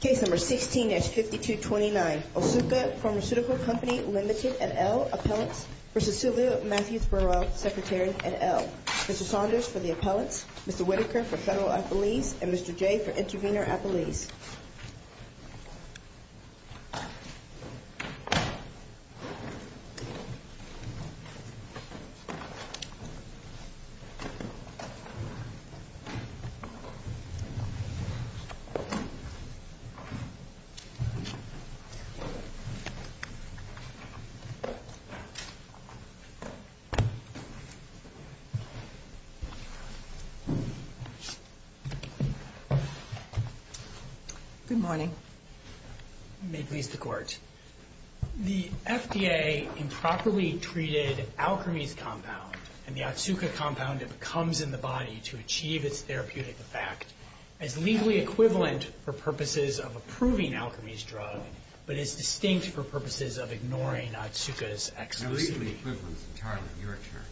Case No. 16-5229, Otsuka Pharmaceutical Co., Lt v. Sylvia Matthews Burwell, Secretary, et al. Mr. Saunders for the appellants, Mr. Whitaker for federal appellees, and Mr. Jay for intervener appellees. Good morning. May it please the Court. The FDA improperly treated Alkermes compound and the Otsuka compound that comes in the body to achieve its therapeutic effect is legally equivalent for purposes of approving Alkermes drug, but is distinct for purposes of ignoring Otsuka's exclusivity. Now, legally equivalent is entirely your term.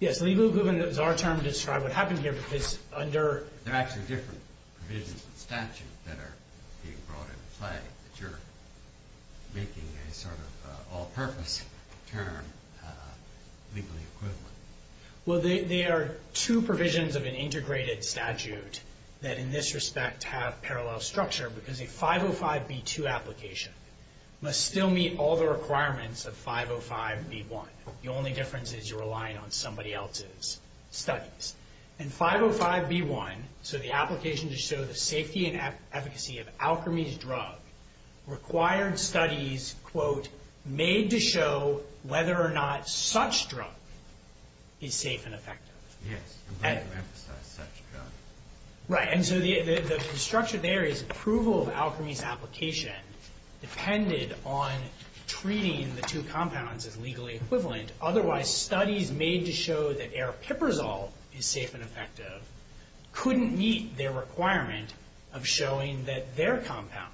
Yes, legally equivalent is our term to describe what happened here because under there are actually different provisions of the statute that are being brought into play, but you're making a sort of all-purpose term, legally equivalent. Well, there are two provisions of an integrated statute that in this respect have parallel structure because a 505b2 application must still meet all the requirements of 505b1. The only difference is you're relying on somebody else's studies. And 505b1, so the application to show the safety and efficacy of Alkermes drug, required studies, quote, made to show whether or not such drug is safe and effective. Yes. And we don't emphasize such drug. Right. And so the structure there is approval of Alkermes application depended on treating the two compounds as legally equivalent. Otherwise, studies made to show that Aripiprazole is safe and effective couldn't meet their requirement of showing that their compound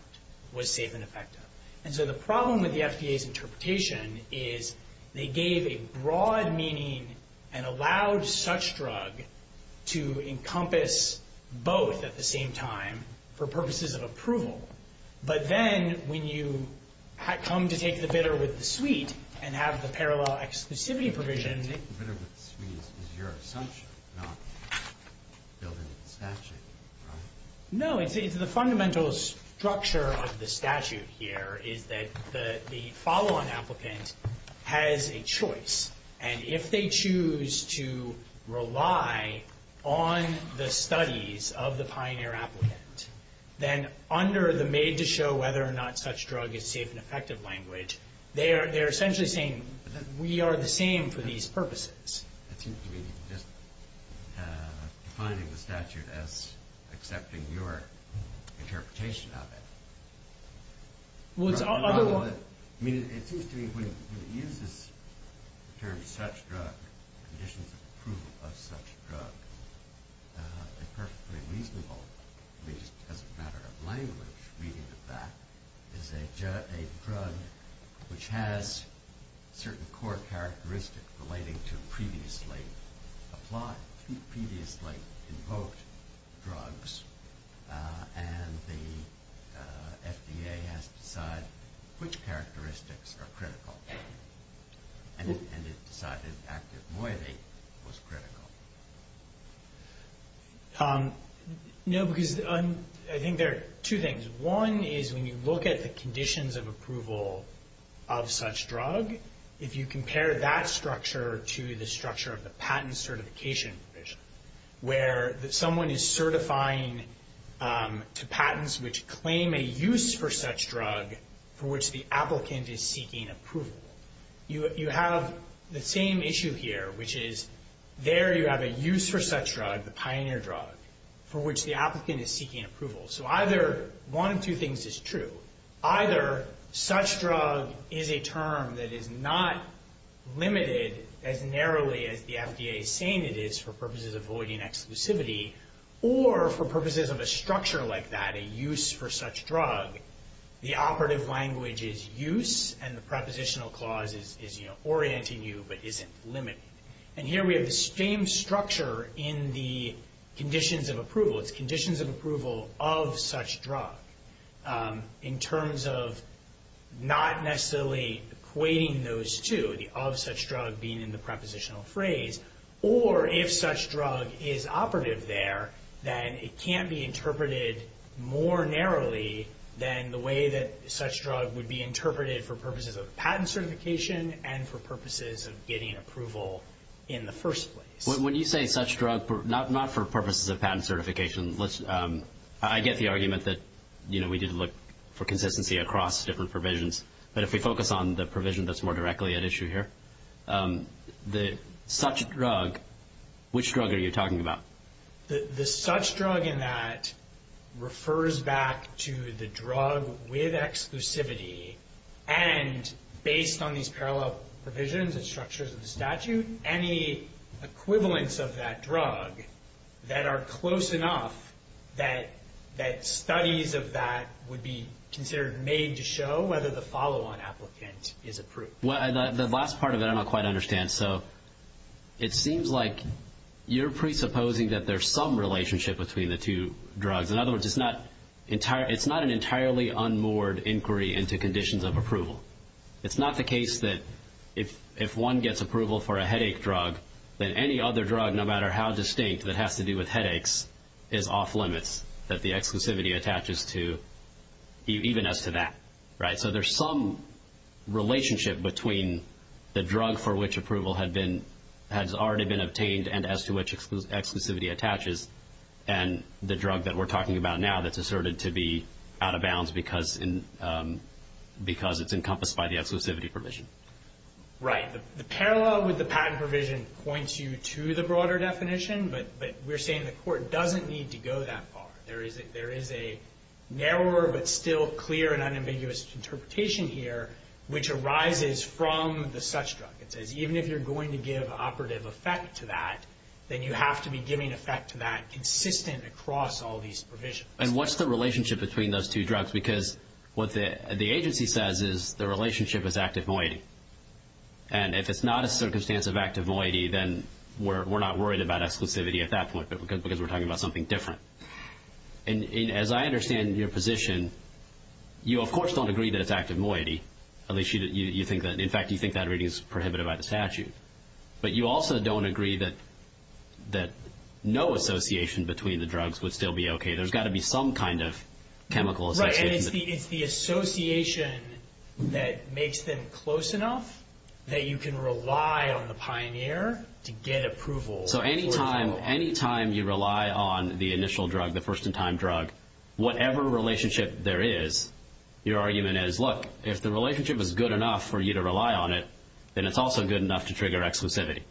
was safe and effective. And so the problem with the FDA's interpretation is they gave a broad meaning and allowed such drug to encompass both at the same time for purposes of approval. But then when you come to take the bidder with the suite and have the parallel exclusivity provision Take the bidder with the suite is your assumption, not built into the statute, right? No, it's the fundamental structure of the statute here is that the follow-on applicant has a choice. And if they choose to rely on the studies of the pioneer applicant, then under the made to show whether or not such drug is safe and effective language, they are essentially saying that we are the same for these purposes. It seems to me you're just defining the statute as accepting your interpretation of it. Well, it's all- I mean, it seems to me when you use this term such drug, conditions of approval of such drug, a perfectly reasonable, at least as a matter of language, reading of that is a drug which has certain core characteristics relating to previously applied, previously invoked drugs. And the FDA has to decide which characteristics are critical. And it decided active moiety was critical. No, because I think there are two things. One is when you look at the conditions of approval of such drug, if you compare that structure to the structure of the patent certification provision, where someone is certifying to patents which claim a use for such drug for which the applicant is seeking approval. You have the same issue here, which is there you have a use for such drug, the pioneer drug, for which the applicant is seeking approval. So either one of two things is true. Either such drug is a term that is not limited as narrowly as the FDA is saying it is for purposes of voiding exclusivity, or for purposes of a structure like that, a use for such drug, the operative language is use, and the prepositional clause is orienting you but isn't limiting. And here we have the same structure in the conditions of approval. It's conditions of approval of such drug in terms of not necessarily equating those two, the of such drug being in the prepositional phrase, or if such drug is operative there, then it can't be interpreted more narrowly than the way that such drug would be interpreted for purposes of patent certification and for purposes of getting approval in the first place. When you say such drug, not for purposes of patent certification. I get the argument that, you know, we did look for consistency across different provisions, but if we focus on the provision that's more directly at issue here, the such drug, which drug are you talking about? The such drug in that refers back to the drug with exclusivity, and based on these parallel provisions and structures of the statute, any equivalents of that drug that are close enough that studies of that would be considered made to show whether the follow-on applicant is approved. The last part of it I don't quite understand. So it seems like you're presupposing that there's some relationship between the two drugs. In other words, it's not an entirely unmoored inquiry into conditions of approval. It's not the case that if one gets approval for a headache drug, then any other drug, no matter how distinct, that has to do with headaches is off limits, that the exclusivity attaches to even as to that, right? So there's some relationship between the drug for which approval has already been obtained and as to which exclusivity attaches and the drug that we're talking about now that's asserted to be out of bounds because it's encompassed by the exclusivity provision. Right. The parallel with the patent provision points you to the broader definition, but we're saying the Court doesn't need to go that far. There is a narrower but still clear and unambiguous interpretation here which arises from the such drug. It says even if you're going to give operative effect to that, then you have to be giving effect to that consistent across all these provisions. And what's the relationship between those two drugs? Because what the agency says is the relationship is active moiety. And if it's not a circumstance of active moiety, then we're not worried about exclusivity at that point because we're talking about something different. And as I understand your position, you, of course, don't agree that it's active moiety. At least you think that. In fact, you think that reading is prohibited by the statute. But you also don't agree that no association between the drugs would still be okay. There's got to be some kind of chemical association. Right, and it's the association that makes them close enough that you can rely on the pioneer to get approval. So any time you rely on the initial drug, the first-in-time drug, whatever relationship there is, your argument is, look, if the relationship is good enough for you to rely on it, then it's also good enough to trigger exclusivity.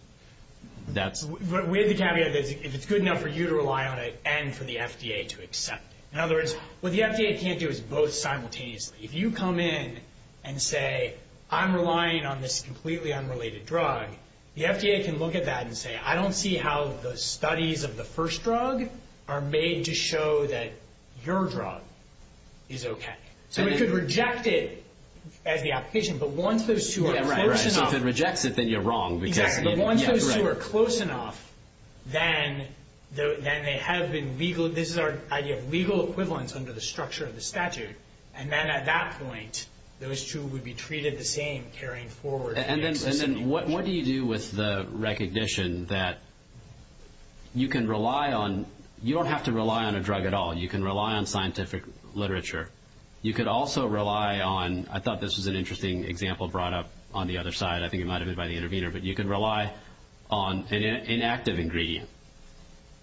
We have the caveat that if it's good enough for you to rely on it and for the FDA to accept it. In other words, what the FDA can't do is both simultaneously. If you come in and say, I'm relying on this completely unrelated drug, the FDA can look at that and say, I don't see how the studies of the first drug are made to show that your drug is okay. So we could reject it as the application, but once those two are close enough. Right, so if it rejects it, then you're wrong. Exactly, but once those two are close enough, then they have been legal. This is our idea of legal equivalence under the structure of the statute. And then at that point, those two would be treated the same, And then what do you do with the recognition that you can rely on, you don't have to rely on a drug at all, you can rely on scientific literature. You could also rely on, I thought this was an interesting example brought up on the other side, I think it might have been by the intervener, but you can rely on an inactive ingredient.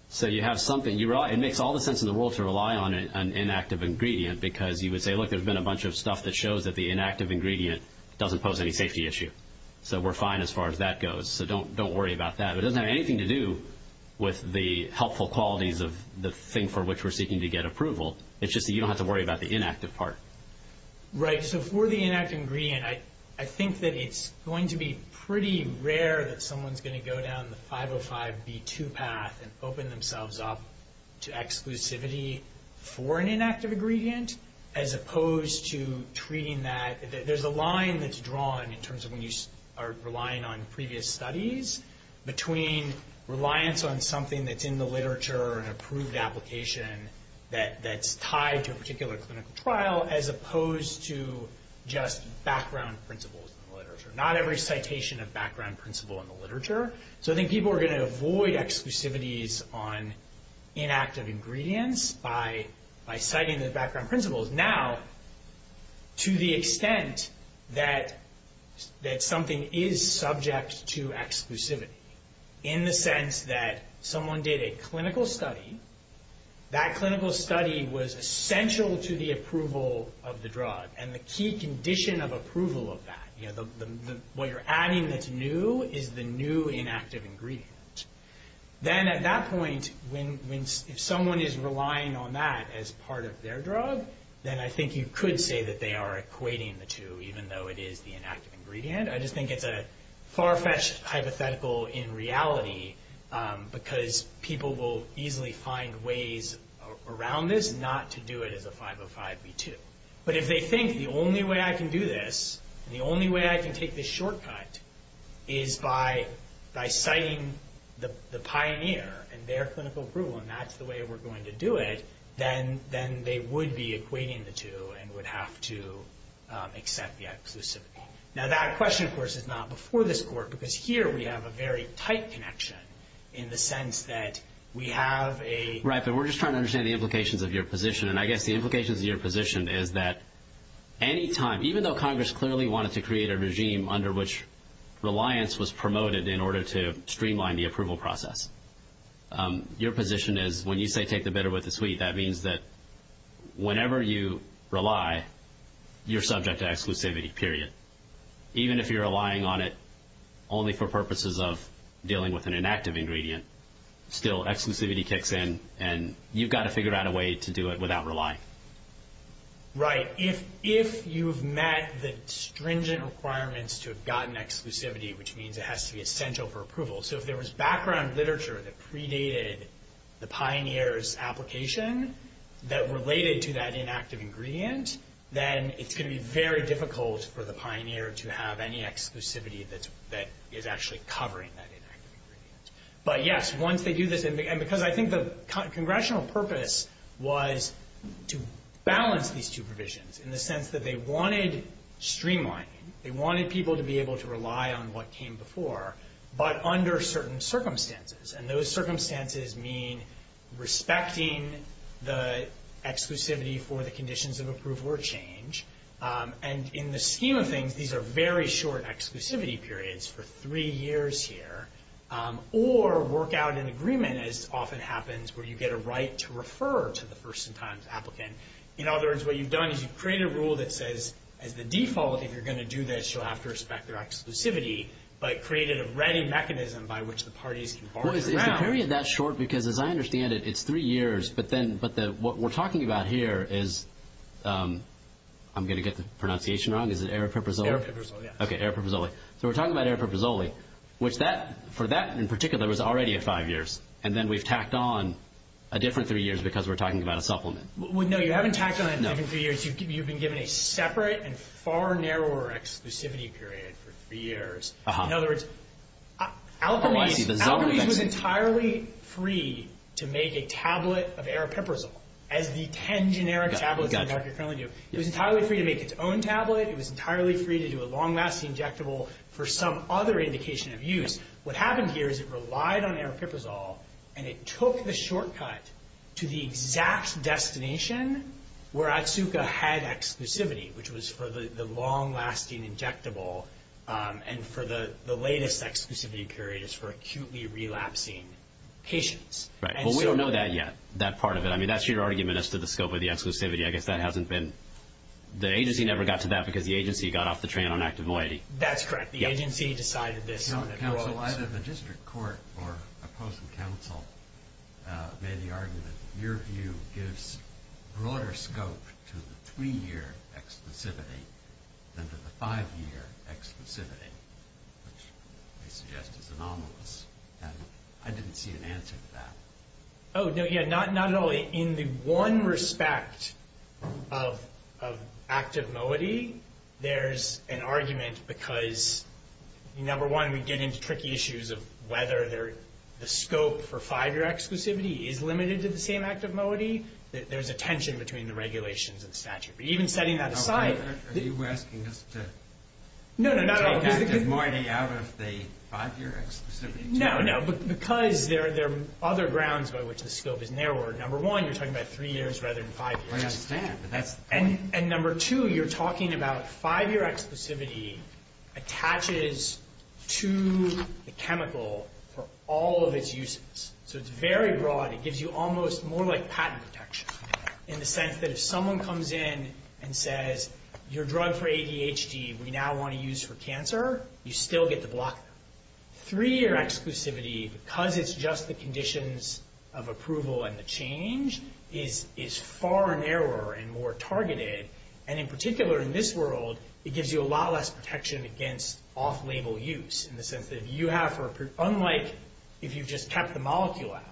So you have something, it makes all the sense in the world to rely on an inactive ingredient, because you would say, look, there's been a bunch of stuff that shows that the inactive ingredient doesn't pose any safety issue. So we're fine as far as that goes, so don't worry about that. It doesn't have anything to do with the helpful qualities of the thing for which we're seeking to get approval. It's just that you don't have to worry about the inactive part. Right, so for the inactive ingredient, I think that it's going to be pretty rare that someone's going to go down the 505B2 path and open themselves up to exclusivity for an inactive ingredient, as opposed to treating that. There's a line that's drawn in terms of when you are relying on previous studies between reliance on something that's in the literature, an approved application that's tied to a particular clinical trial, as opposed to just background principles in the literature. So I think people are going to avoid exclusivities on inactive ingredients by citing the background principles. Now, to the extent that something is subject to exclusivity, in the sense that someone did a clinical study, that clinical study was essential to the approval of the drug, and the key condition of approval of that, what you're adding that's new is the new inactive ingredient. Then at that point, if someone is relying on that as part of their drug, then I think you could say that they are equating the two, even though it is the inactive ingredient. I just think it's a far-fetched hypothetical in reality, because people will easily find ways around this not to do it as a 505B2. But if they think the only way I can do this, the only way I can take this shortcut, is by citing the pioneer and their clinical approval, and that's the way we're going to do it, then they would be equating the two and would have to accept the exclusivity. Now that question, of course, is not before this court, because here we have a very tight connection in the sense that we have a... Right, but we're just trying to understand the implications of your position, and I guess the implications of your position is that any time, even though Congress clearly wanted to create a regime under which reliance was promoted in order to streamline the approval process, your position is when you say take the bitter with the sweet, that means that whenever you rely, you're subject to exclusivity, period. Even if you're relying on it only for purposes of dealing with an inactive ingredient, still exclusivity kicks in, and you've got to figure out a way to do it without relying. Right. If you've met the stringent requirements to have gotten exclusivity, which means it has to be essential for approval, so if there was background literature that predated the pioneer's application that related to that inactive ingredient, then it's going to be very difficult for the pioneer to have any exclusivity that is actually covering that inactive ingredient. But yes, once they do this, and because I think the congressional purpose was to balance these two provisions in the sense that they wanted streamlining, they wanted people to be able to rely on what came before, but under certain circumstances, and those circumstances mean respecting the exclusivity for the conditions of approval or change, and in the scheme of things, these are very short exclusivity periods for three years here, or work out an agreement, as often happens, where you get a right to refer to the first-in-time applicant. In other words, what you've done is you've created a rule that says, as the default, if you're going to do this, you'll have to respect their exclusivity, but created a ready mechanism by which the parties can bargain around. Well, is the period that short? Because as I understand it, it's three years, but then what we're talking about here is, I'm going to get the pronunciation wrong, is it Arepiprazole? Arepiprazole, yes. Okay, Arepiprazole. So we're talking about Arepiprazole, which for that in particular was already a five years, and then we've tacked on a different three years because we're talking about a supplement. No, you haven't tacked on a different three years. You've been given a separate and far narrower exclusivity period for three years. In other words, Alkermes was entirely free to make a tablet of Arepiprazole, as the ten generic tablets on the market currently do. It was entirely free to make its own tablet. It was entirely free to do a long-lasting injectable for some other indication of use. What happened here is it relied on Arepiprazole, and it took the shortcut to the exact destination where ATSUCA had exclusivity, which was for the long-lasting injectable, and for the latest exclusivity period is for acutely relapsing patients. Right, but we don't know that yet, that part of it. I mean, that's your argument as to the scope of the exclusivity. I guess that hasn't been. The agency never got to that because the agency got off the train on active moiety. That's correct. The agency decided this. Either the district court or opposing counsel made the argument, your view gives broader scope to the three-year exclusivity than to the five-year exclusivity, which they suggest is anomalous, and I didn't see an answer to that. Oh, no, yeah, not at all. In the one respect of active moiety, there's an argument because, number one, we get into tricky issues of whether the scope for five-year exclusivity is limited to the same active moiety. There's a tension between the regulations and statute, but even setting that aside. Are you asking us to take active moiety out of the five-year exclusivity? No, no, because there are other grounds by which the scope is narrowed. Number one, you're talking about three years rather than five years. I understand, but that's the point. And number two, you're talking about five-year exclusivity attaches to the chemical for all of its uses. So it's very broad. It gives you almost more like patent protection, in the sense that if someone comes in and says, your drug for ADHD we now want to use for cancer, you still get to block them. Three-year exclusivity, because it's just the conditions of approval and the change, is far narrower and more targeted. And in particular, in this world, it gives you a lot less protection against off-label use, in the sense that if you have, unlike if you've just kept the molecule out,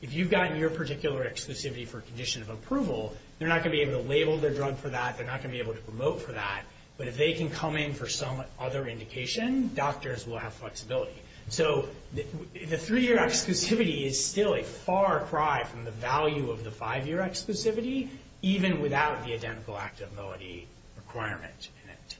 if you've gotten your particular exclusivity for a condition of approval, they're not going to be able to label their drug for that. They're not going to be able to promote for that. But if they can come in for some other indication, doctors will have flexibility. So the three-year exclusivity is still a far cry from the value of the five-year exclusivity, even without the identical activity requirement in it.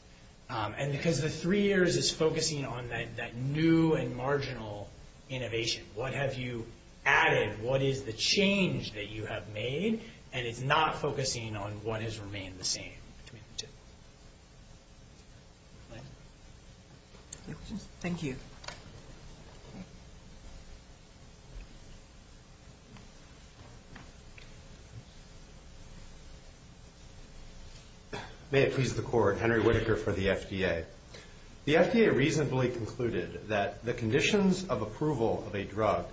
And because the three years is focusing on that new and marginal innovation, what have you added, what is the change that you have made, and it's not focusing on what has remained the same? Any questions? Thank you. May it please the Court. Henry Whitaker for the FDA. The FDA reasonably concluded that the conditions of approval of a drug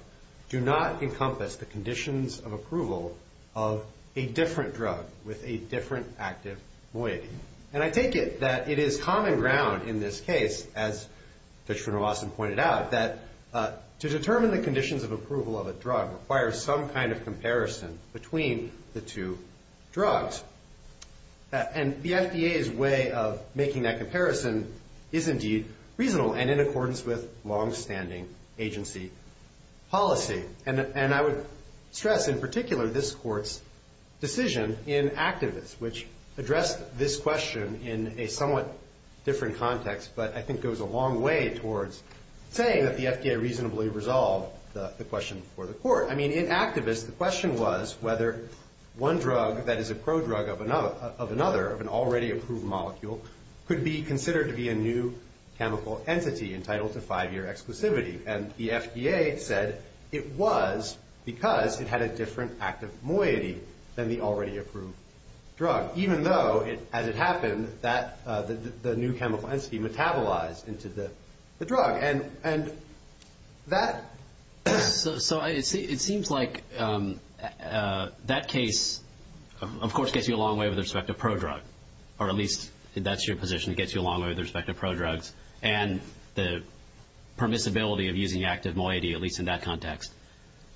do not encompass the conditions of approval of a different drug with a different active moiety. And I take it that it is common ground in this case, as Judge van der Waassen pointed out, that to determine the conditions of approval of a drug requires some kind of comparison between the two drugs. And the FDA's way of making that comparison is indeed reasonable and in accordance with longstanding agency policy. And I would stress, in particular, this Court's decision in activist, which addressed this question in a somewhat different context, but I think goes a long way towards saying that the FDA reasonably resolved the question for the Court. I mean, in activist, the question was whether one drug that is a prodrug of another, of an already approved molecule, could be considered to be a new chemical entity entitled to five-year exclusivity. And the FDA said it was because it had a different active moiety than the already approved drug, even though, as it happened, the new chemical entity metabolized into the drug. And that... So it seems like that case, of course, gets you a long way with respect to prodrug, or at least that's your position, it gets you a long way with respect to prodrugs and the permissibility of using active moiety, at least in that context.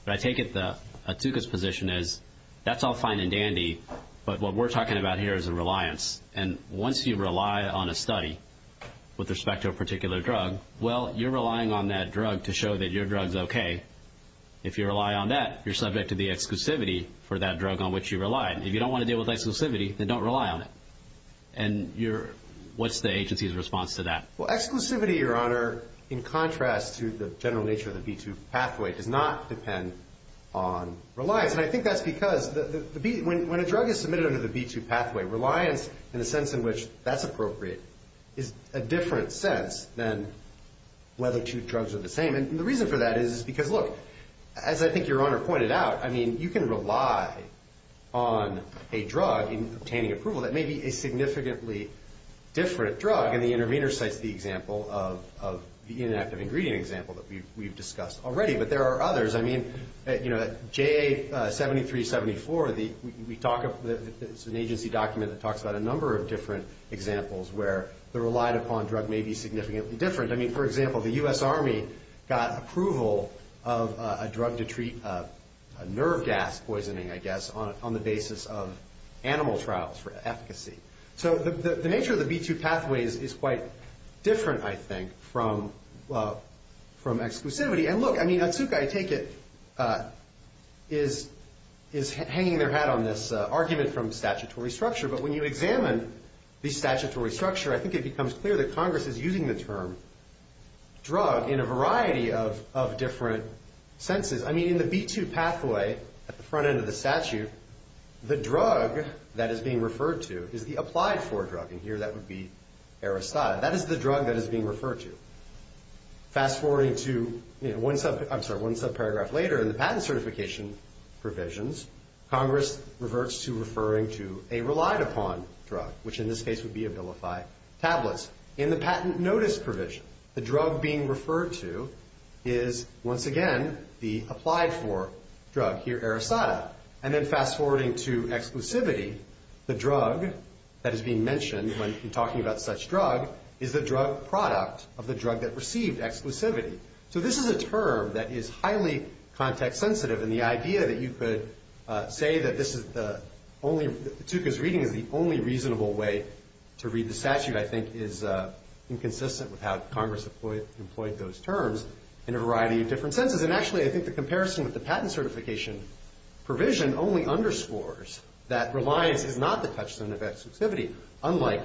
But I take it that Atuka's position is, that's all fine and dandy, but what we're talking about here is a reliance. And once you rely on a study with respect to a particular drug, well, you're relying on that drug to show that your drug's okay. If you rely on that, you're subject to the exclusivity for that drug on which you rely. If you don't want to deal with exclusivity, then don't rely on it. And what's the agency's response to that? Well, exclusivity, Your Honor, in contrast to the general nature of the B2 pathway, does not depend on reliance. And I think that's because when a drug is submitted under the B2 pathway, reliance, in the sense in which that's appropriate, is a different sense than whether two drugs are the same. And the reason for that is because, look, as I think Your Honor pointed out, you can rely on a drug in obtaining approval that may be a significantly different drug, and the intervener site's the example of the inactive ingredient example that we've discussed already. But there are others. I mean, J.A. 7374, it's an agency document that talks about a number of different examples where the relied-upon drug may be significantly different. I mean, for example, the U.S. Army got approval of a drug to treat nerve gas poisoning, I guess, on the basis of animal trials for efficacy. So the nature of the B2 pathway is quite different, I think, from exclusivity. And, look, I mean, Atsuka, I take it, is hanging their hat on this argument from statutory structure. But when you examine the statutory structure, I think it becomes clear that Congress is using the term drug in a variety of different senses. I mean, in the B2 pathway, at the front end of the statute, the drug that is being referred to is the applied-for drug. And here that would be Aristide. That is the drug that is being referred to. Fast-forwarding to one subparagraph later in the patent certification provisions, Congress reverts to referring to a relied-upon drug, which in this case would be Abilify tablets. In the patent notice provision, the drug being referred to is, once again, the applied-for drug, here Aristide. And then fast-forwarding to exclusivity, the drug that is being mentioned when talking about such drug is the drug product of the drug that received exclusivity. So this is a term that is highly context-sensitive, and the idea that you could say that this is the only – that Atsuka's reading is the only reasonable way to read the statute, I think, is inconsistent with how Congress employed those terms in a variety of different senses. And, actually, I think the comparison with the patent certification provision only underscores that reliance is not the touchstone of exclusivity, unlike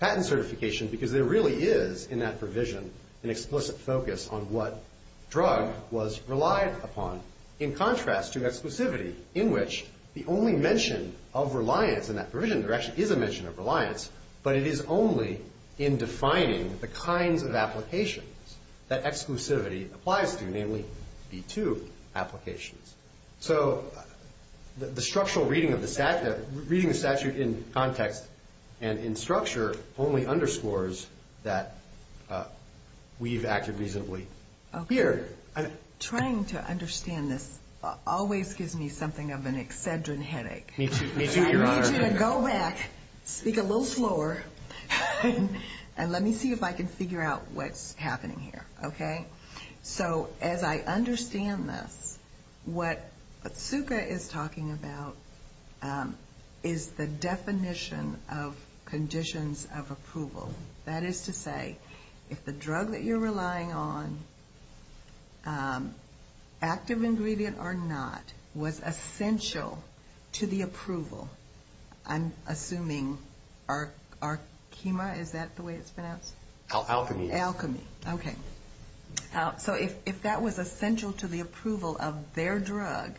patent certification, because there really is, in that provision, an explicit focus on what drug was relied upon, in contrast to exclusivity, in which the only mention of reliance in that provision – there actually is a mention of reliance, but it is only in defining the kinds of applications that exclusivity applies to, namely B2 applications. So the structural reading of the statute in context and in structure only underscores that we've acted reasonably. Okay. Here. Trying to understand this always gives me something of an excedrin headache. Me too, Your Honor. I need you to go back, speak a little slower, and let me see if I can figure out what's happening here, okay? So, as I understand this, what Zuka is talking about is the definition of conditions of approval. That is to say, if the drug that you're relying on, active ingredient or not, was essential to the approval, I'm assuming Arkema, is that the way it's pronounced? Alchemy. Alchemy. Okay. So if that was essential to the approval of their drug,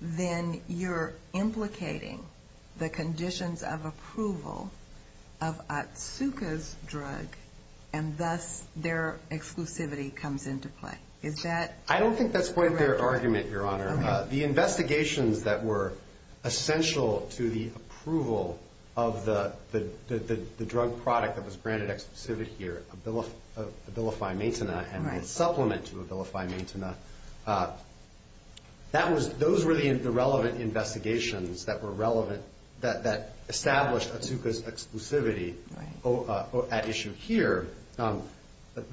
then you're implicating the conditions of approval of Atsuka's drug, and thus their exclusivity comes into play. Is that correct? I don't think that's quite their argument, Your Honor. The investigations that were essential to the approval of the drug product that was granted exclusivity here, Abilify Maintena, and its supplement to Abilify Maintena, those were the relevant investigations that established Atsuka's exclusivity at issue here. What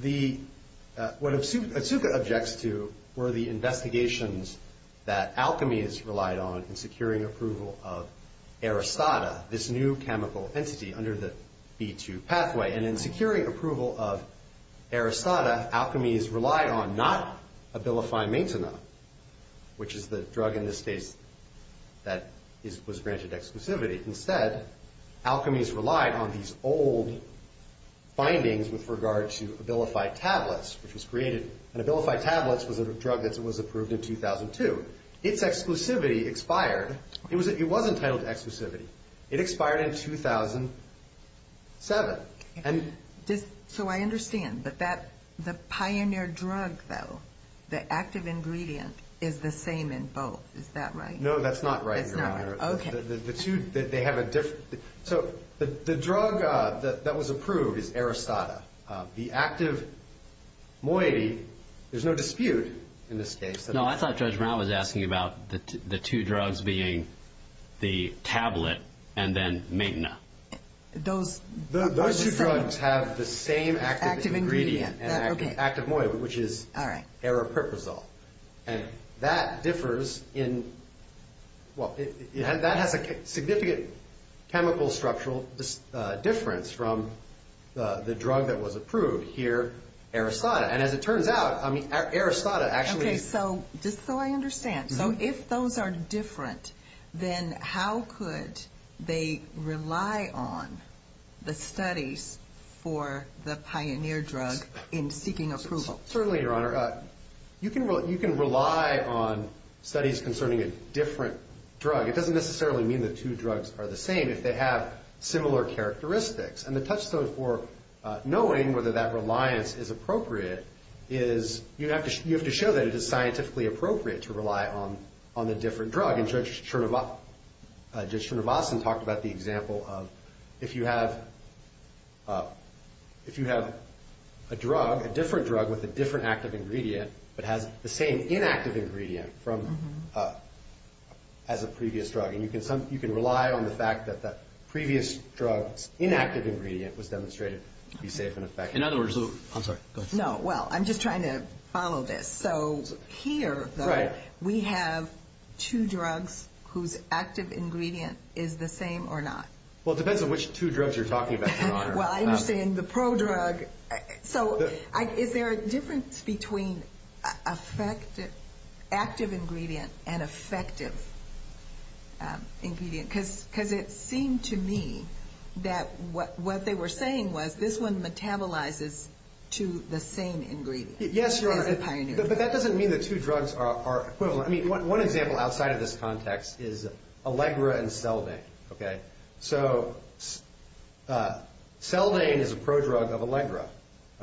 Atsuka objects to were the investigations that Alchemy has relied on in securing approval of Aristata, this new chemical entity under the B2 pathway. And in securing approval of Aristata, Alchemy has relied on not Abilify Maintena, which is the drug in this case that was granted exclusivity. Instead, Alchemy has relied on these old findings with regard to Abilify Tablets, which was created. And Abilify Tablets was a drug that was approved in 2002. Its exclusivity expired. It was entitled to exclusivity. It expired in 2007. So I understand. But the pioneer drug, though, the active ingredient, is the same in both. Is that right? No, that's not right, Your Honor. That's not right. Okay. So the drug that was approved is Aristata. The active moiety, there's no dispute in this case. No, I thought Judge Brown was asking about the two drugs being the tablet and then Maintena. Those two drugs have the same active ingredient, active moiety, which is aripiprazole. And that differs in—well, that has a significant chemical structural difference from the drug that was approved here, Aristata. And as it turns out, Aristata actually— Okay, so just so I understand. So if those are different, then how could they rely on the studies for the pioneer drug in seeking approval? Certainly, Your Honor. You can rely on studies concerning a different drug. It doesn't necessarily mean the two drugs are the same if they have similar characteristics. And the touchstone for knowing whether that reliance is appropriate is you have to show that it is scientifically appropriate to rely on the different drug. And Judge Chernivosten talked about the example of if you have a drug, a different drug with a different active ingredient, but has the same inactive ingredient as a previous drug, and you can rely on the fact that that previous drug's inactive ingredient was demonstrated to be safe and effective. In other words—I'm sorry, go ahead. No, well, I'm just trying to follow this. So here, though, we have two drugs whose active ingredient is the same or not. Well, it depends on which two drugs you're talking about, Your Honor. Well, I understand the prodrug. So is there a difference between active ingredient and effective ingredient? Because it seemed to me that what they were saying was this one metabolizes to the same ingredient as the pioneer drug. Yes, Your Honor, but that doesn't mean the two drugs are equivalent. I mean, one example outside of this context is Allegra and Seldane, okay? So Seldane is a prodrug of Allegra,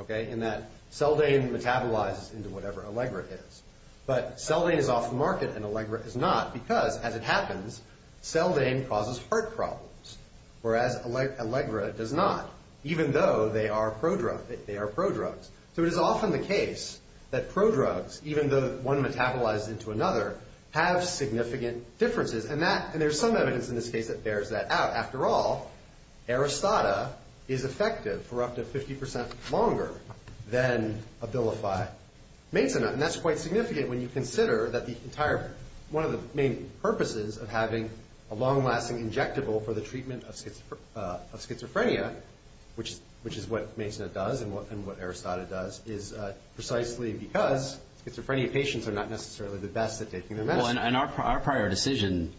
okay, in that Seldane metabolizes into whatever Allegra is. But Seldane is off the market and Allegra is not because, as it happens, Seldane causes heart problems, whereas Allegra does not, even though they are prodrugs. So it is often the case that prodrugs, even though one metabolizes into another, have significant differences. And there's some evidence in this case that bears that out. After all, Aristata is effective for up to 50 percent longer than Abilify-Maysenna, and that's quite significant when you consider that one of the main purposes of having a long-lasting injectable for the treatment of schizophrenia, which is what Maysenna does and what Aristata does, is precisely because schizophrenia patients are not necessarily the best at taking their medicine. Well, and our prior decision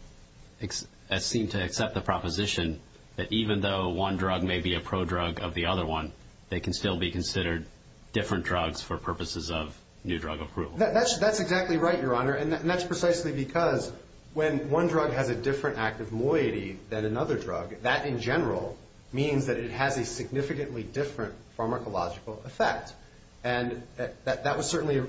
seemed to accept the proposition that even though one drug may be a prodrug of the other one, they can still be considered different drugs for purposes of new drug approval. That's exactly right, Your Honor, and that's precisely because when one drug has a different active moiety than another drug, that in general means that it has a significantly different pharmacological effect. And that was certainly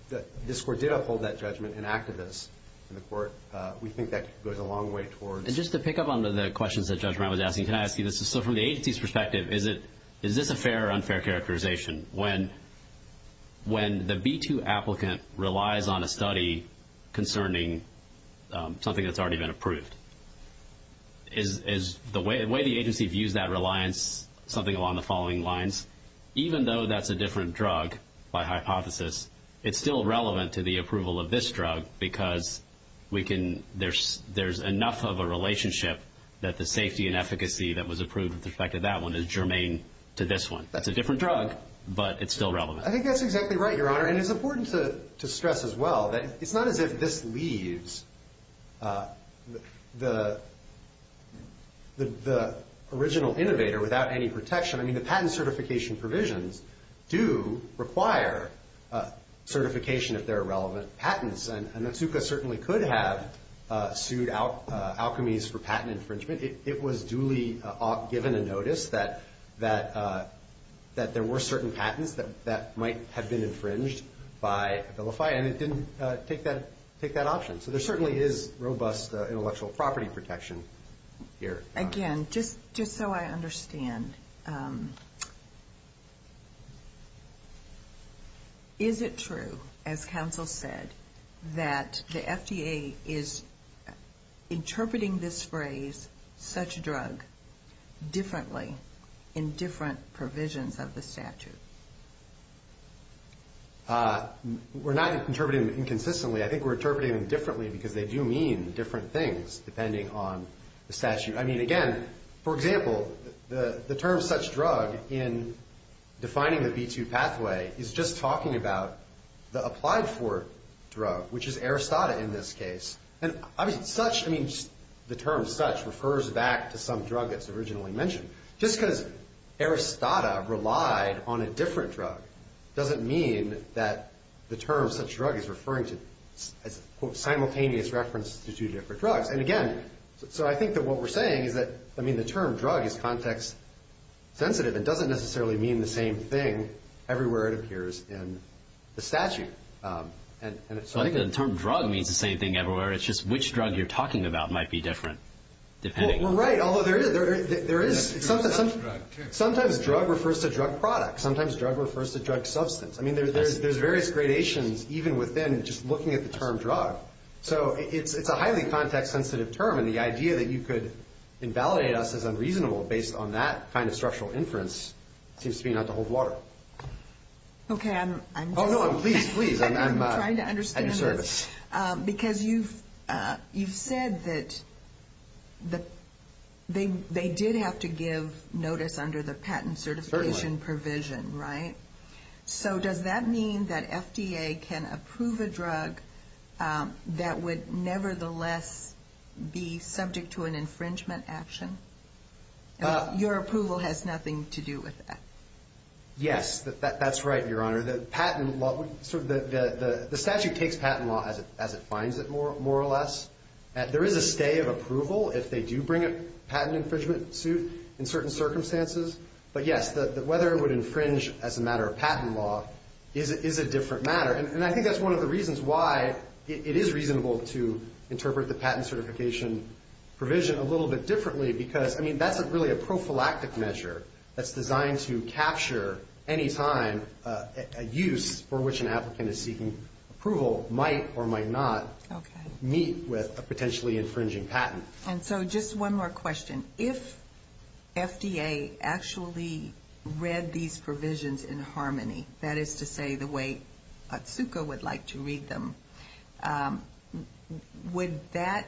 – this Court did uphold that judgment and acted this in the Court. We think that goes a long way towards – And just to pick up on the questions that Judge Brown was asking, can I ask you this? So from the agency's perspective, is this a fair or unfair characterization? When the B-2 applicant relies on a study concerning something that's already been approved, is the way the agency views that reliance something along the following lines? Even though that's a different drug by hypothesis, it's still relevant to the approval of this drug because there's enough of a relationship that the safety and efficacy that was approved with respect to that one is germane to this one. That's a different drug, but it's still relevant. I think that's exactly right, Your Honor. And it's important to stress as well that it's not as if this leaves the original innovator without any protection. I mean, the patent certification provisions do require certification if they're relevant patents. And Natsuka certainly could have sued alchemies for patent infringement. It was duly given a notice that there were certain patents that might have been infringed by Abilify, and it didn't take that option. So there certainly is robust intellectual property protection here. Again, just so I understand, is it true, as counsel said, that the FDA is interpreting this phrase, such a drug, differently in different provisions of the statute? We're not interpreting it inconsistently. I think we're interpreting them differently because they do mean different things depending on the statute. I mean, again, for example, the term such drug in defining the B-2 pathway is just talking about the applied for drug, which is Aristata in this case. And such, I mean, the term such refers back to some drug that's originally mentioned. Just because Aristata relied on a different drug doesn't mean that the term such drug is referring to a simultaneous reference to two different drugs. And again, so I think that what we're saying is that, I mean, the term drug is context sensitive. It doesn't necessarily mean the same thing everywhere it appears in the statute. I think the term drug means the same thing everywhere. It's just which drug you're talking about might be different depending. Well, right, although there is, sometimes drug refers to drug product. Sometimes drug refers to drug substance. I mean, there's various gradations even within just looking at the term drug. So it's a highly context sensitive term, and the idea that you could invalidate us as unreasonable based on that kind of structural inference seems to me not to hold water. Okay, I'm just. Oh, no, please, please. I'm trying to understand this. Because you've said that they did have to give notice under the patent certification provision, right? So does that mean that FDA can approve a drug that would nevertheless be subject to an infringement action? Your approval has nothing to do with that. Yes, that's right, Your Honor. The statute takes patent law as it finds it, more or less. There is a stay of approval if they do bring a patent infringement suit in certain circumstances. But, yes, whether it would infringe as a matter of patent law is a different matter. And I think that's one of the reasons why it is reasonable to interpret the patent certification provision a little bit differently because, I mean, that's really a prophylactic measure that's designed to capture any time a use for which an applicant is seeking approval might or might not meet with a potentially infringing patent. And so just one more question. If FDA actually read these provisions in harmony, that is to say the way Otsuka would like to read them, would that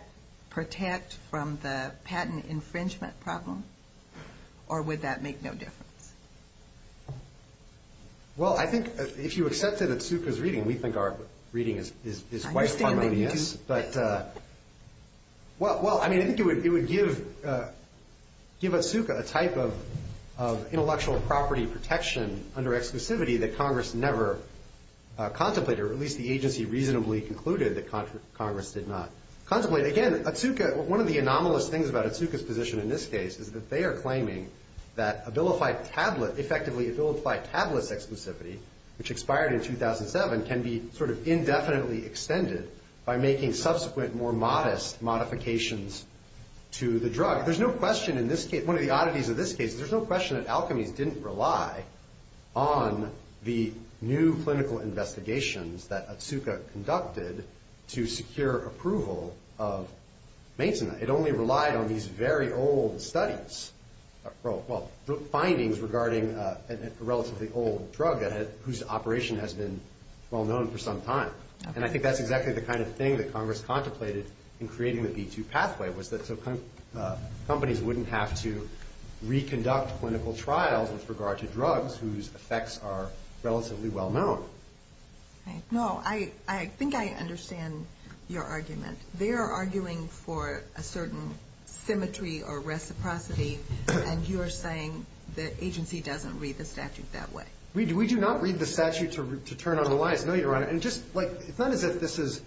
protect from the patent infringement problem or would that make no difference? Well, I think if you accepted Otsuka's reading, we think our reading is quite harmonious. Well, I mean, I think it would give Otsuka a type of intellectual property protection under exclusivity that Congress never contemplated, or at least the agency reasonably concluded that Congress did not contemplate. Again, Otsuka, one of the anomalous things about Otsuka's position in this case is that they are claiming that Abilify tablet, effectively Abilify tablets exclusivity, which expired in 2007, can be sort of indefinitely extended by making subsequent more modest modifications to the drug. There's no question in this case, one of the oddities of this case, is there's no question that Alchemies didn't rely on the new clinical investigations that Otsuka conducted to secure approval of maintenance. It only relied on these very old studies, well, findings regarding a relatively old drug whose operation has been well known for some time. And I think that's exactly the kind of thing that Congress contemplated in creating the B2 pathway, was that companies wouldn't have to reconduct clinical trials with regard to drugs whose effects are relatively well known. No. I think I understand your argument. They are arguing for a certain symmetry or reciprocity, and you are saying the agency doesn't read the statute that way. We do not read the statute to turn on the lies. No, Your Honor. It's not as if this is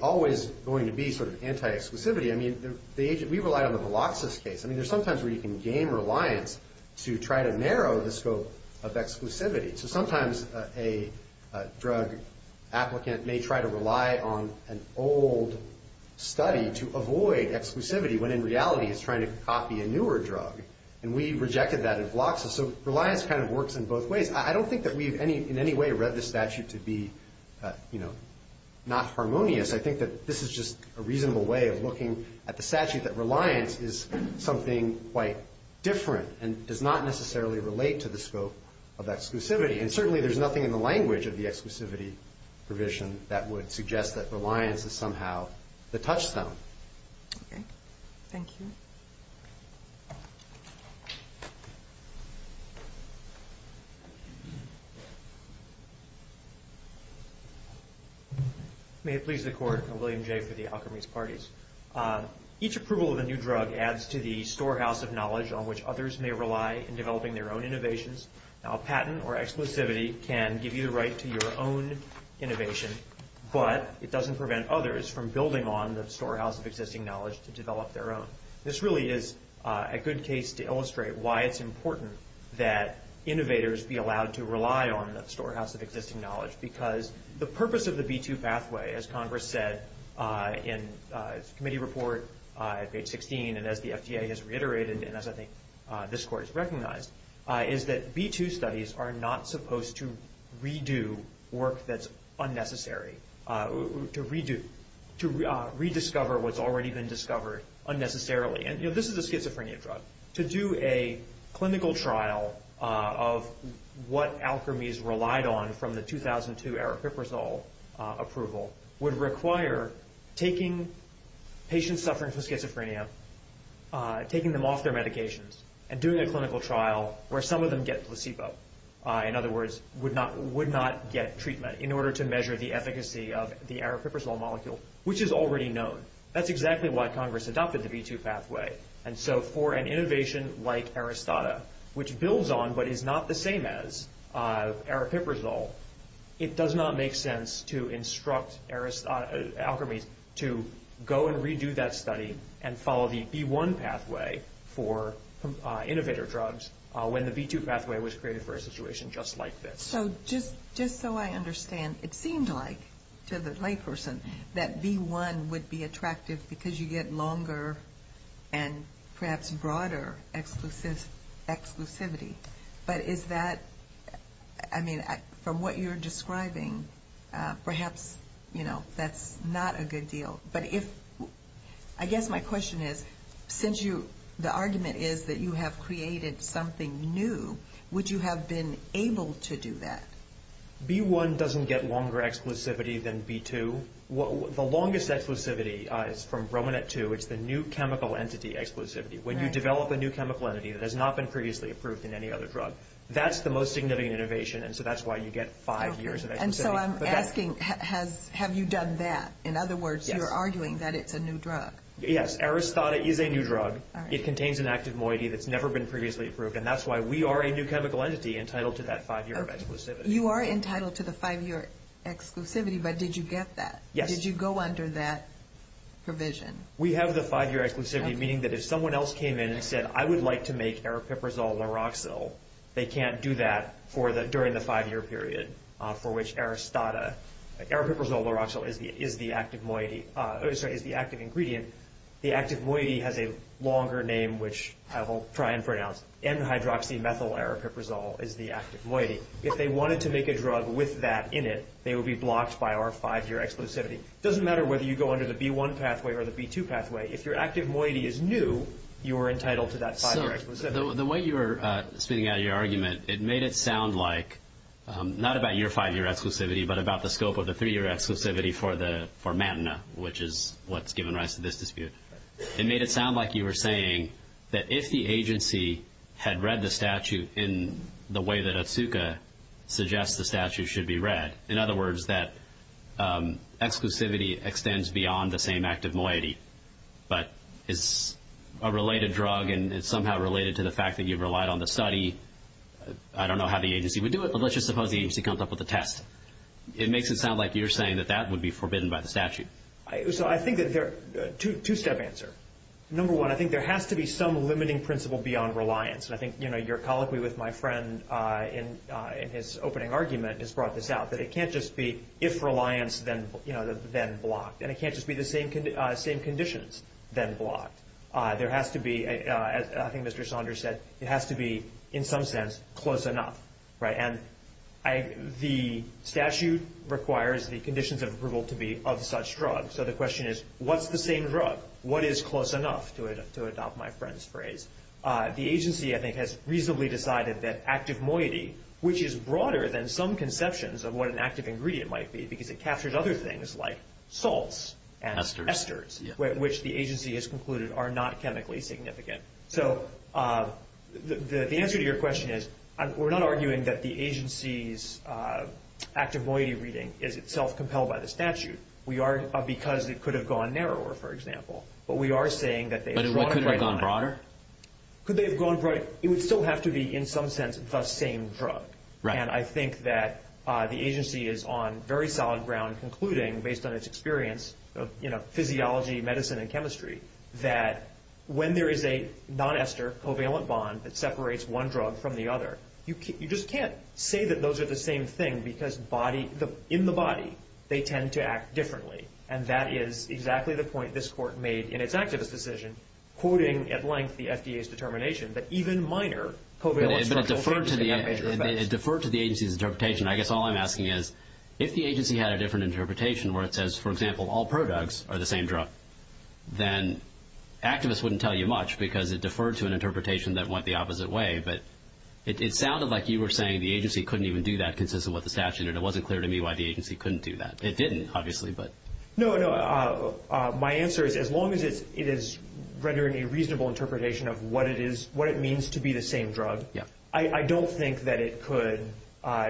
always going to be sort of anti-exclusivity. I mean, we rely on the Veloxus case. I mean, there's sometimes where you can gain reliance to try to narrow the scope of exclusivity. So sometimes a drug applicant may try to rely on an old study to avoid exclusivity, when in reality it's trying to copy a newer drug, and we rejected that in Veloxus. So reliance kind of works in both ways. I don't think that we've in any way read the statute to be, you know, not harmonious. I think that this is just a reasonable way of looking at the statute, that reliance is something quite different and does not necessarily relate to the scope of exclusivity. And certainly there's nothing in the language of the exclusivity provision that would suggest that reliance is somehow the touchstone. Okay. Thank you. Thank you. May it please the Court. I'm William Jay for the Alkermes Parties. Each approval of a new drug adds to the storehouse of knowledge on which others may rely in developing their own innovations. Now a patent or exclusivity can give you the right to your own innovation, but it doesn't prevent others from building on the storehouse of existing knowledge to develop their own. This really is a good case to illustrate why it's important that innovators be allowed to rely on the storehouse of existing knowledge, because the purpose of the B-2 pathway, as Congress said in its committee report at page 16, and as the FDA has reiterated and as I think this Court has recognized, is that B-2 studies are not supposed to redo work that's unnecessary, to rediscover what's already been discovered unnecessarily. And, you know, this is a schizophrenia drug. To do a clinical trial of what Alkermes relied on from the 2002 aripiprazole approval would require taking patients suffering from schizophrenia, taking them off their medications, and doing a clinical trial where some of them get placebo. In other words, would not get treatment in order to measure the efficacy of the aripiprazole molecule, which is already known. That's exactly why Congress adopted the B-2 pathway. And so for an innovation like Aristata, which builds on but is not the same as aripiprazole, it does not make sense to instruct Alkermes to go and redo that study and follow the B-1 pathway for innovator drugs when the B-2 pathway was created for a situation just like this. So just so I understand, it seemed like to the layperson that B-1 would be attractive because you get longer and perhaps broader exclusivity. But is that, I mean, from what you're describing, perhaps, you know, that's not a good deal. But if, I guess my question is, since you, the argument is that you have created something new, would you have been able to do that? B-1 doesn't get longer exclusivity than B-2. The longest exclusivity is from Romanet-2. It's the new chemical entity exclusivity. When you develop a new chemical entity that has not been previously approved in any other drug, that's the most significant innovation, and so that's why you get five years of exclusivity. And so I'm asking, have you done that? In other words, you're arguing that it's a new drug. Yes, Aristata is a new drug. It contains an active moiety that's never been previously approved, and that's why we are a new chemical entity entitled to that five-year exclusivity. You are entitled to the five-year exclusivity, but did you get that? Yes. Did you go under that provision? We have the five-year exclusivity, meaning that if someone else came in and said, I would like to make aripiprazole lauroxil, they can't do that during the five-year period, for which aripiprazole lauroxil is the active ingredient. The active moiety has a longer name, which I will try and pronounce. N-hydroxymethyl aripiprazole is the active moiety. If they wanted to make a drug with that in it, they would be blocked by our five-year exclusivity. It doesn't matter whether you go under the B-1 pathway or the B-2 pathway. If your active moiety is new, you are entitled to that five-year exclusivity. So the way you are spitting out your argument, it made it sound like, not about your five-year exclusivity but about the scope of the three-year exclusivity for matina, which is what's given rise to this dispute. It made it sound like you were saying that if the agency had read the statute in the way that Atsuka suggests the statute should be read, in other words, that exclusivity extends beyond the same active moiety but is a related drug and is somehow related to the fact that you've relied on the study. I don't know how the agency would do it, but let's just suppose the agency comes up with a test. It makes it sound like you're saying that that would be forbidden by the statute. So I think that there are two-step answers. Number one, I think there has to be some limiting principle beyond reliance. And I think your colloquy with my friend in his opening argument has brought this out, that it can't just be if reliance, then blocked. And it can't just be the same conditions, then blocked. There has to be, as I think Mr. Saunders said, it has to be, in some sense, close enough. And the statute requires the conditions of approval to be of such drugs. So the question is, what's the same drug? What is close enough, to adopt my friend's phrase? The agency, I think, has reasonably decided that active moiety, which is broader than some conceptions of what an active ingredient might be, because it captures other things like salts and esters, which the agency has concluded are not chemically significant. So the answer to your question is, we're not arguing that the agency's active moiety reading is itself compelled by the statute. We are because it could have gone narrower, for example. But we are saying that they have drawn it right on. But it could have gone broader? Could they have gone broader? It would still have to be, in some sense, the same drug. And I think that the agency is on very solid ground, concluding based on its experience of physiology, medicine, and chemistry, that when there is a non-ester covalent bond that separates one drug from the other, you just can't say that those are the same thing, because in the body they tend to act differently. And that is exactly the point this Court made in its activist decision, quoting at length the FDA's determination that even minor covalent structural changes can have major effects. But it deferred to the agency's interpretation. I guess all I'm asking is, if the agency had a different interpretation, where it says, for example, all produgs are the same drug, then activists wouldn't tell you much because it deferred to an interpretation that went the opposite way. But it sounded like you were saying the agency couldn't even do that consistent with the statute, and it wasn't clear to me why the agency couldn't do that. It didn't, obviously. No, no. My answer is, as long as it is rendering a reasonable interpretation of what it means to be the same drug, I don't think that it could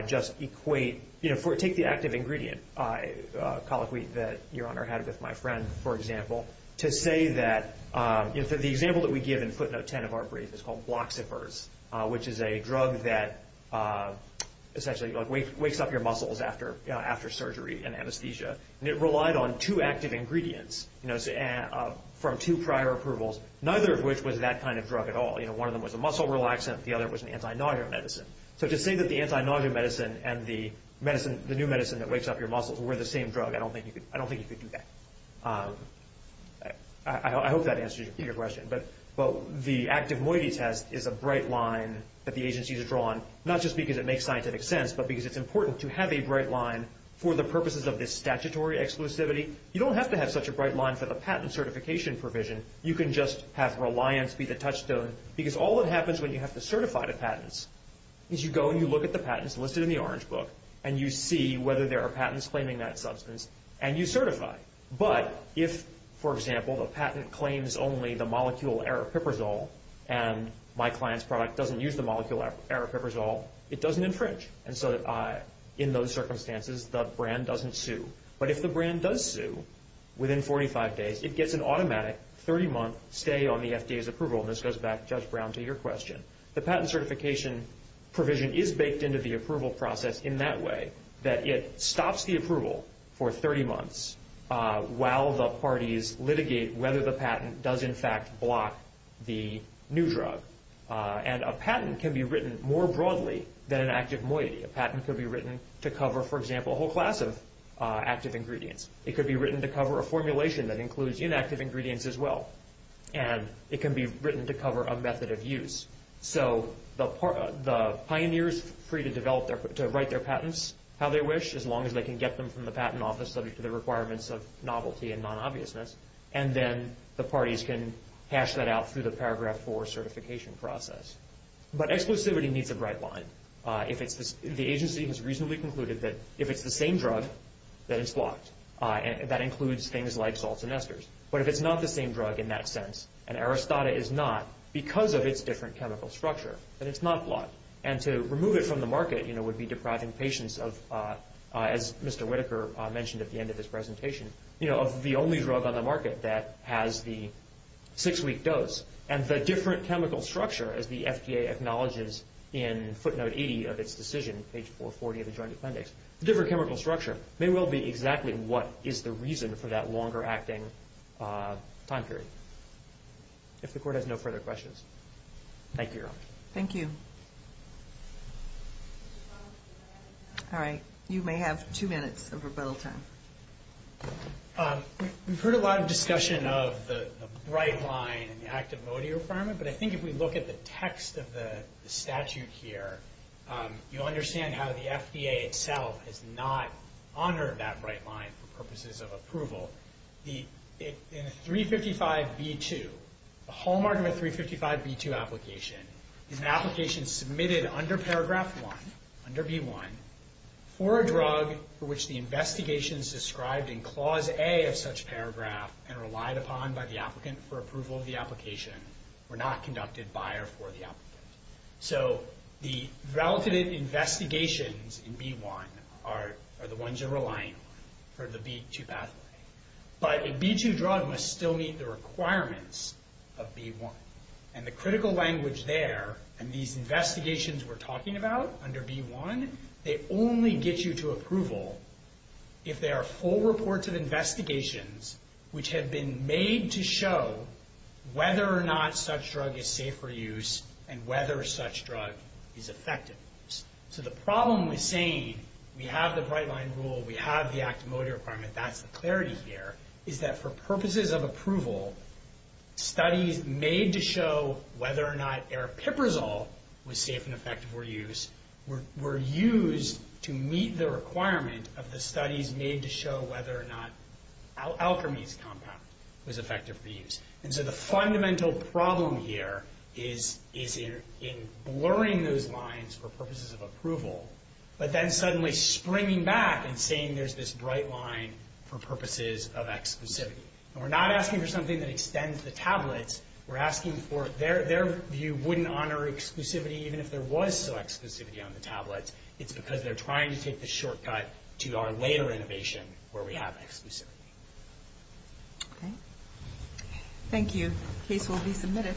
just equate. Take the active ingredient, colloquy that Your Honor had with my friend, for example, to say that the example that we give in footnote 10 of our brief is called bloxifers, which is a drug that essentially wakes up your muscles after surgery and anesthesia. And it relied on two active ingredients from two prior approvals, neither of which was that kind of drug at all. One of them was a muscle relaxant. The other was an anti-nausea medicine. So to say that the anti-nausea medicine and the new medicine that wakes up your muscles were the same drug, I don't think you could do that. I hope that answers your question. But the active moiety test is a bright line that the agency has drawn, not just because it makes scientific sense, but because it's important to have a bright line for the purposes of this statutory exclusivity. You don't have to have such a bright line for the patent certification provision. You can just have reliance be the touchstone, because all that happens when you have to certify the patents is you go and you look at the patents listed in the Orange Book, and you see whether there are patents claiming that substance, and you certify. But if, for example, the patent claims only the molecule aripiprazole and my client's product doesn't use the molecule aripiprazole, it doesn't infringe. And so in those circumstances, the brand doesn't sue. But if the brand does sue within 45 days, it gets an automatic 30-month stay on the FDA's approval, and this goes back, Judge Brown, to your question. The patent certification provision is baked into the approval process in that way, that it stops the approval for 30 months while the parties litigate whether the patent does, in fact, block the new drug. And a patent can be written more broadly than an active moiety. A patent could be written to cover, for example, a whole class of active ingredients. It could be written to cover a formulation that includes inactive ingredients as well. And it can be written to cover a method of use. So the pioneers are free to write their patents how they wish, as long as they can get them from the patent office subject to the requirements of novelty and non-obviousness, and then the parties can hash that out through the Paragraph 4 certification process. But exclusivity needs a bright line. The agency has reasonably concluded that if it's the same drug, then it's blocked. That includes things like salts and esters. But if it's not the same drug in that sense, and Aristata is not, because of its different chemical structure, then it's not blocked. And to remove it from the market would be depriving patients of, as Mr. Whitaker mentioned at the end of his presentation, of the only drug on the market that has the six-week dose. And the different chemical structure, as the FDA acknowledges in footnote 80 of its decision, page 440 of the Joint Appendix, the different chemical structure may well be exactly what is the reason for that longer-acting time period. If the Court has no further questions, thank you, Your Honor. Thank you. All right. You may have two minutes of rebuttal time. We've heard a lot of discussion of the bright line in the Act of Modio Affirmative, but I think if we look at the text of the statute here, you'll understand how the FDA itself has not honored that bright line for purposes of approval. In a 355B2, the hallmark of a 355B2 application is an application submitted under Paragraph 1, under B1, for a drug for which the investigation is described in Clause A of such paragraph and relied upon by the applicant for approval of the application were not conducted by or for the applicant. So the relative investigations in B1 are the ones you're relying on for the B2 pathway. But a B2 drug must still meet the requirements of B1. And the critical language there, and these investigations we're talking about under B1, they only get you to approval if there are full reports of investigations which have been made to show whether or not such drug is safe for use and whether such drug is effective. So the problem with saying we have the bright line rule, we have the Act of Modio Affirmative, that's the clarity here, is that for purposes of approval, studies made to show whether or not aripiprazole was safe and effective for use were used to meet the requirement of the studies made to show whether or not alchemy's compound was effective for use. And so the fundamental problem here is in blurring those lines for purposes of approval, but then suddenly springing back and saying there's this bright line for purposes of exclusivity. And we're not asking for something that extends the tablets. We're asking for their view wouldn't honor exclusivity even if there was some exclusivity on the tablets. It's because they're trying to take the shortcut to our later innovation where we have exclusivity. Okay. Thank you. Case will be submitted.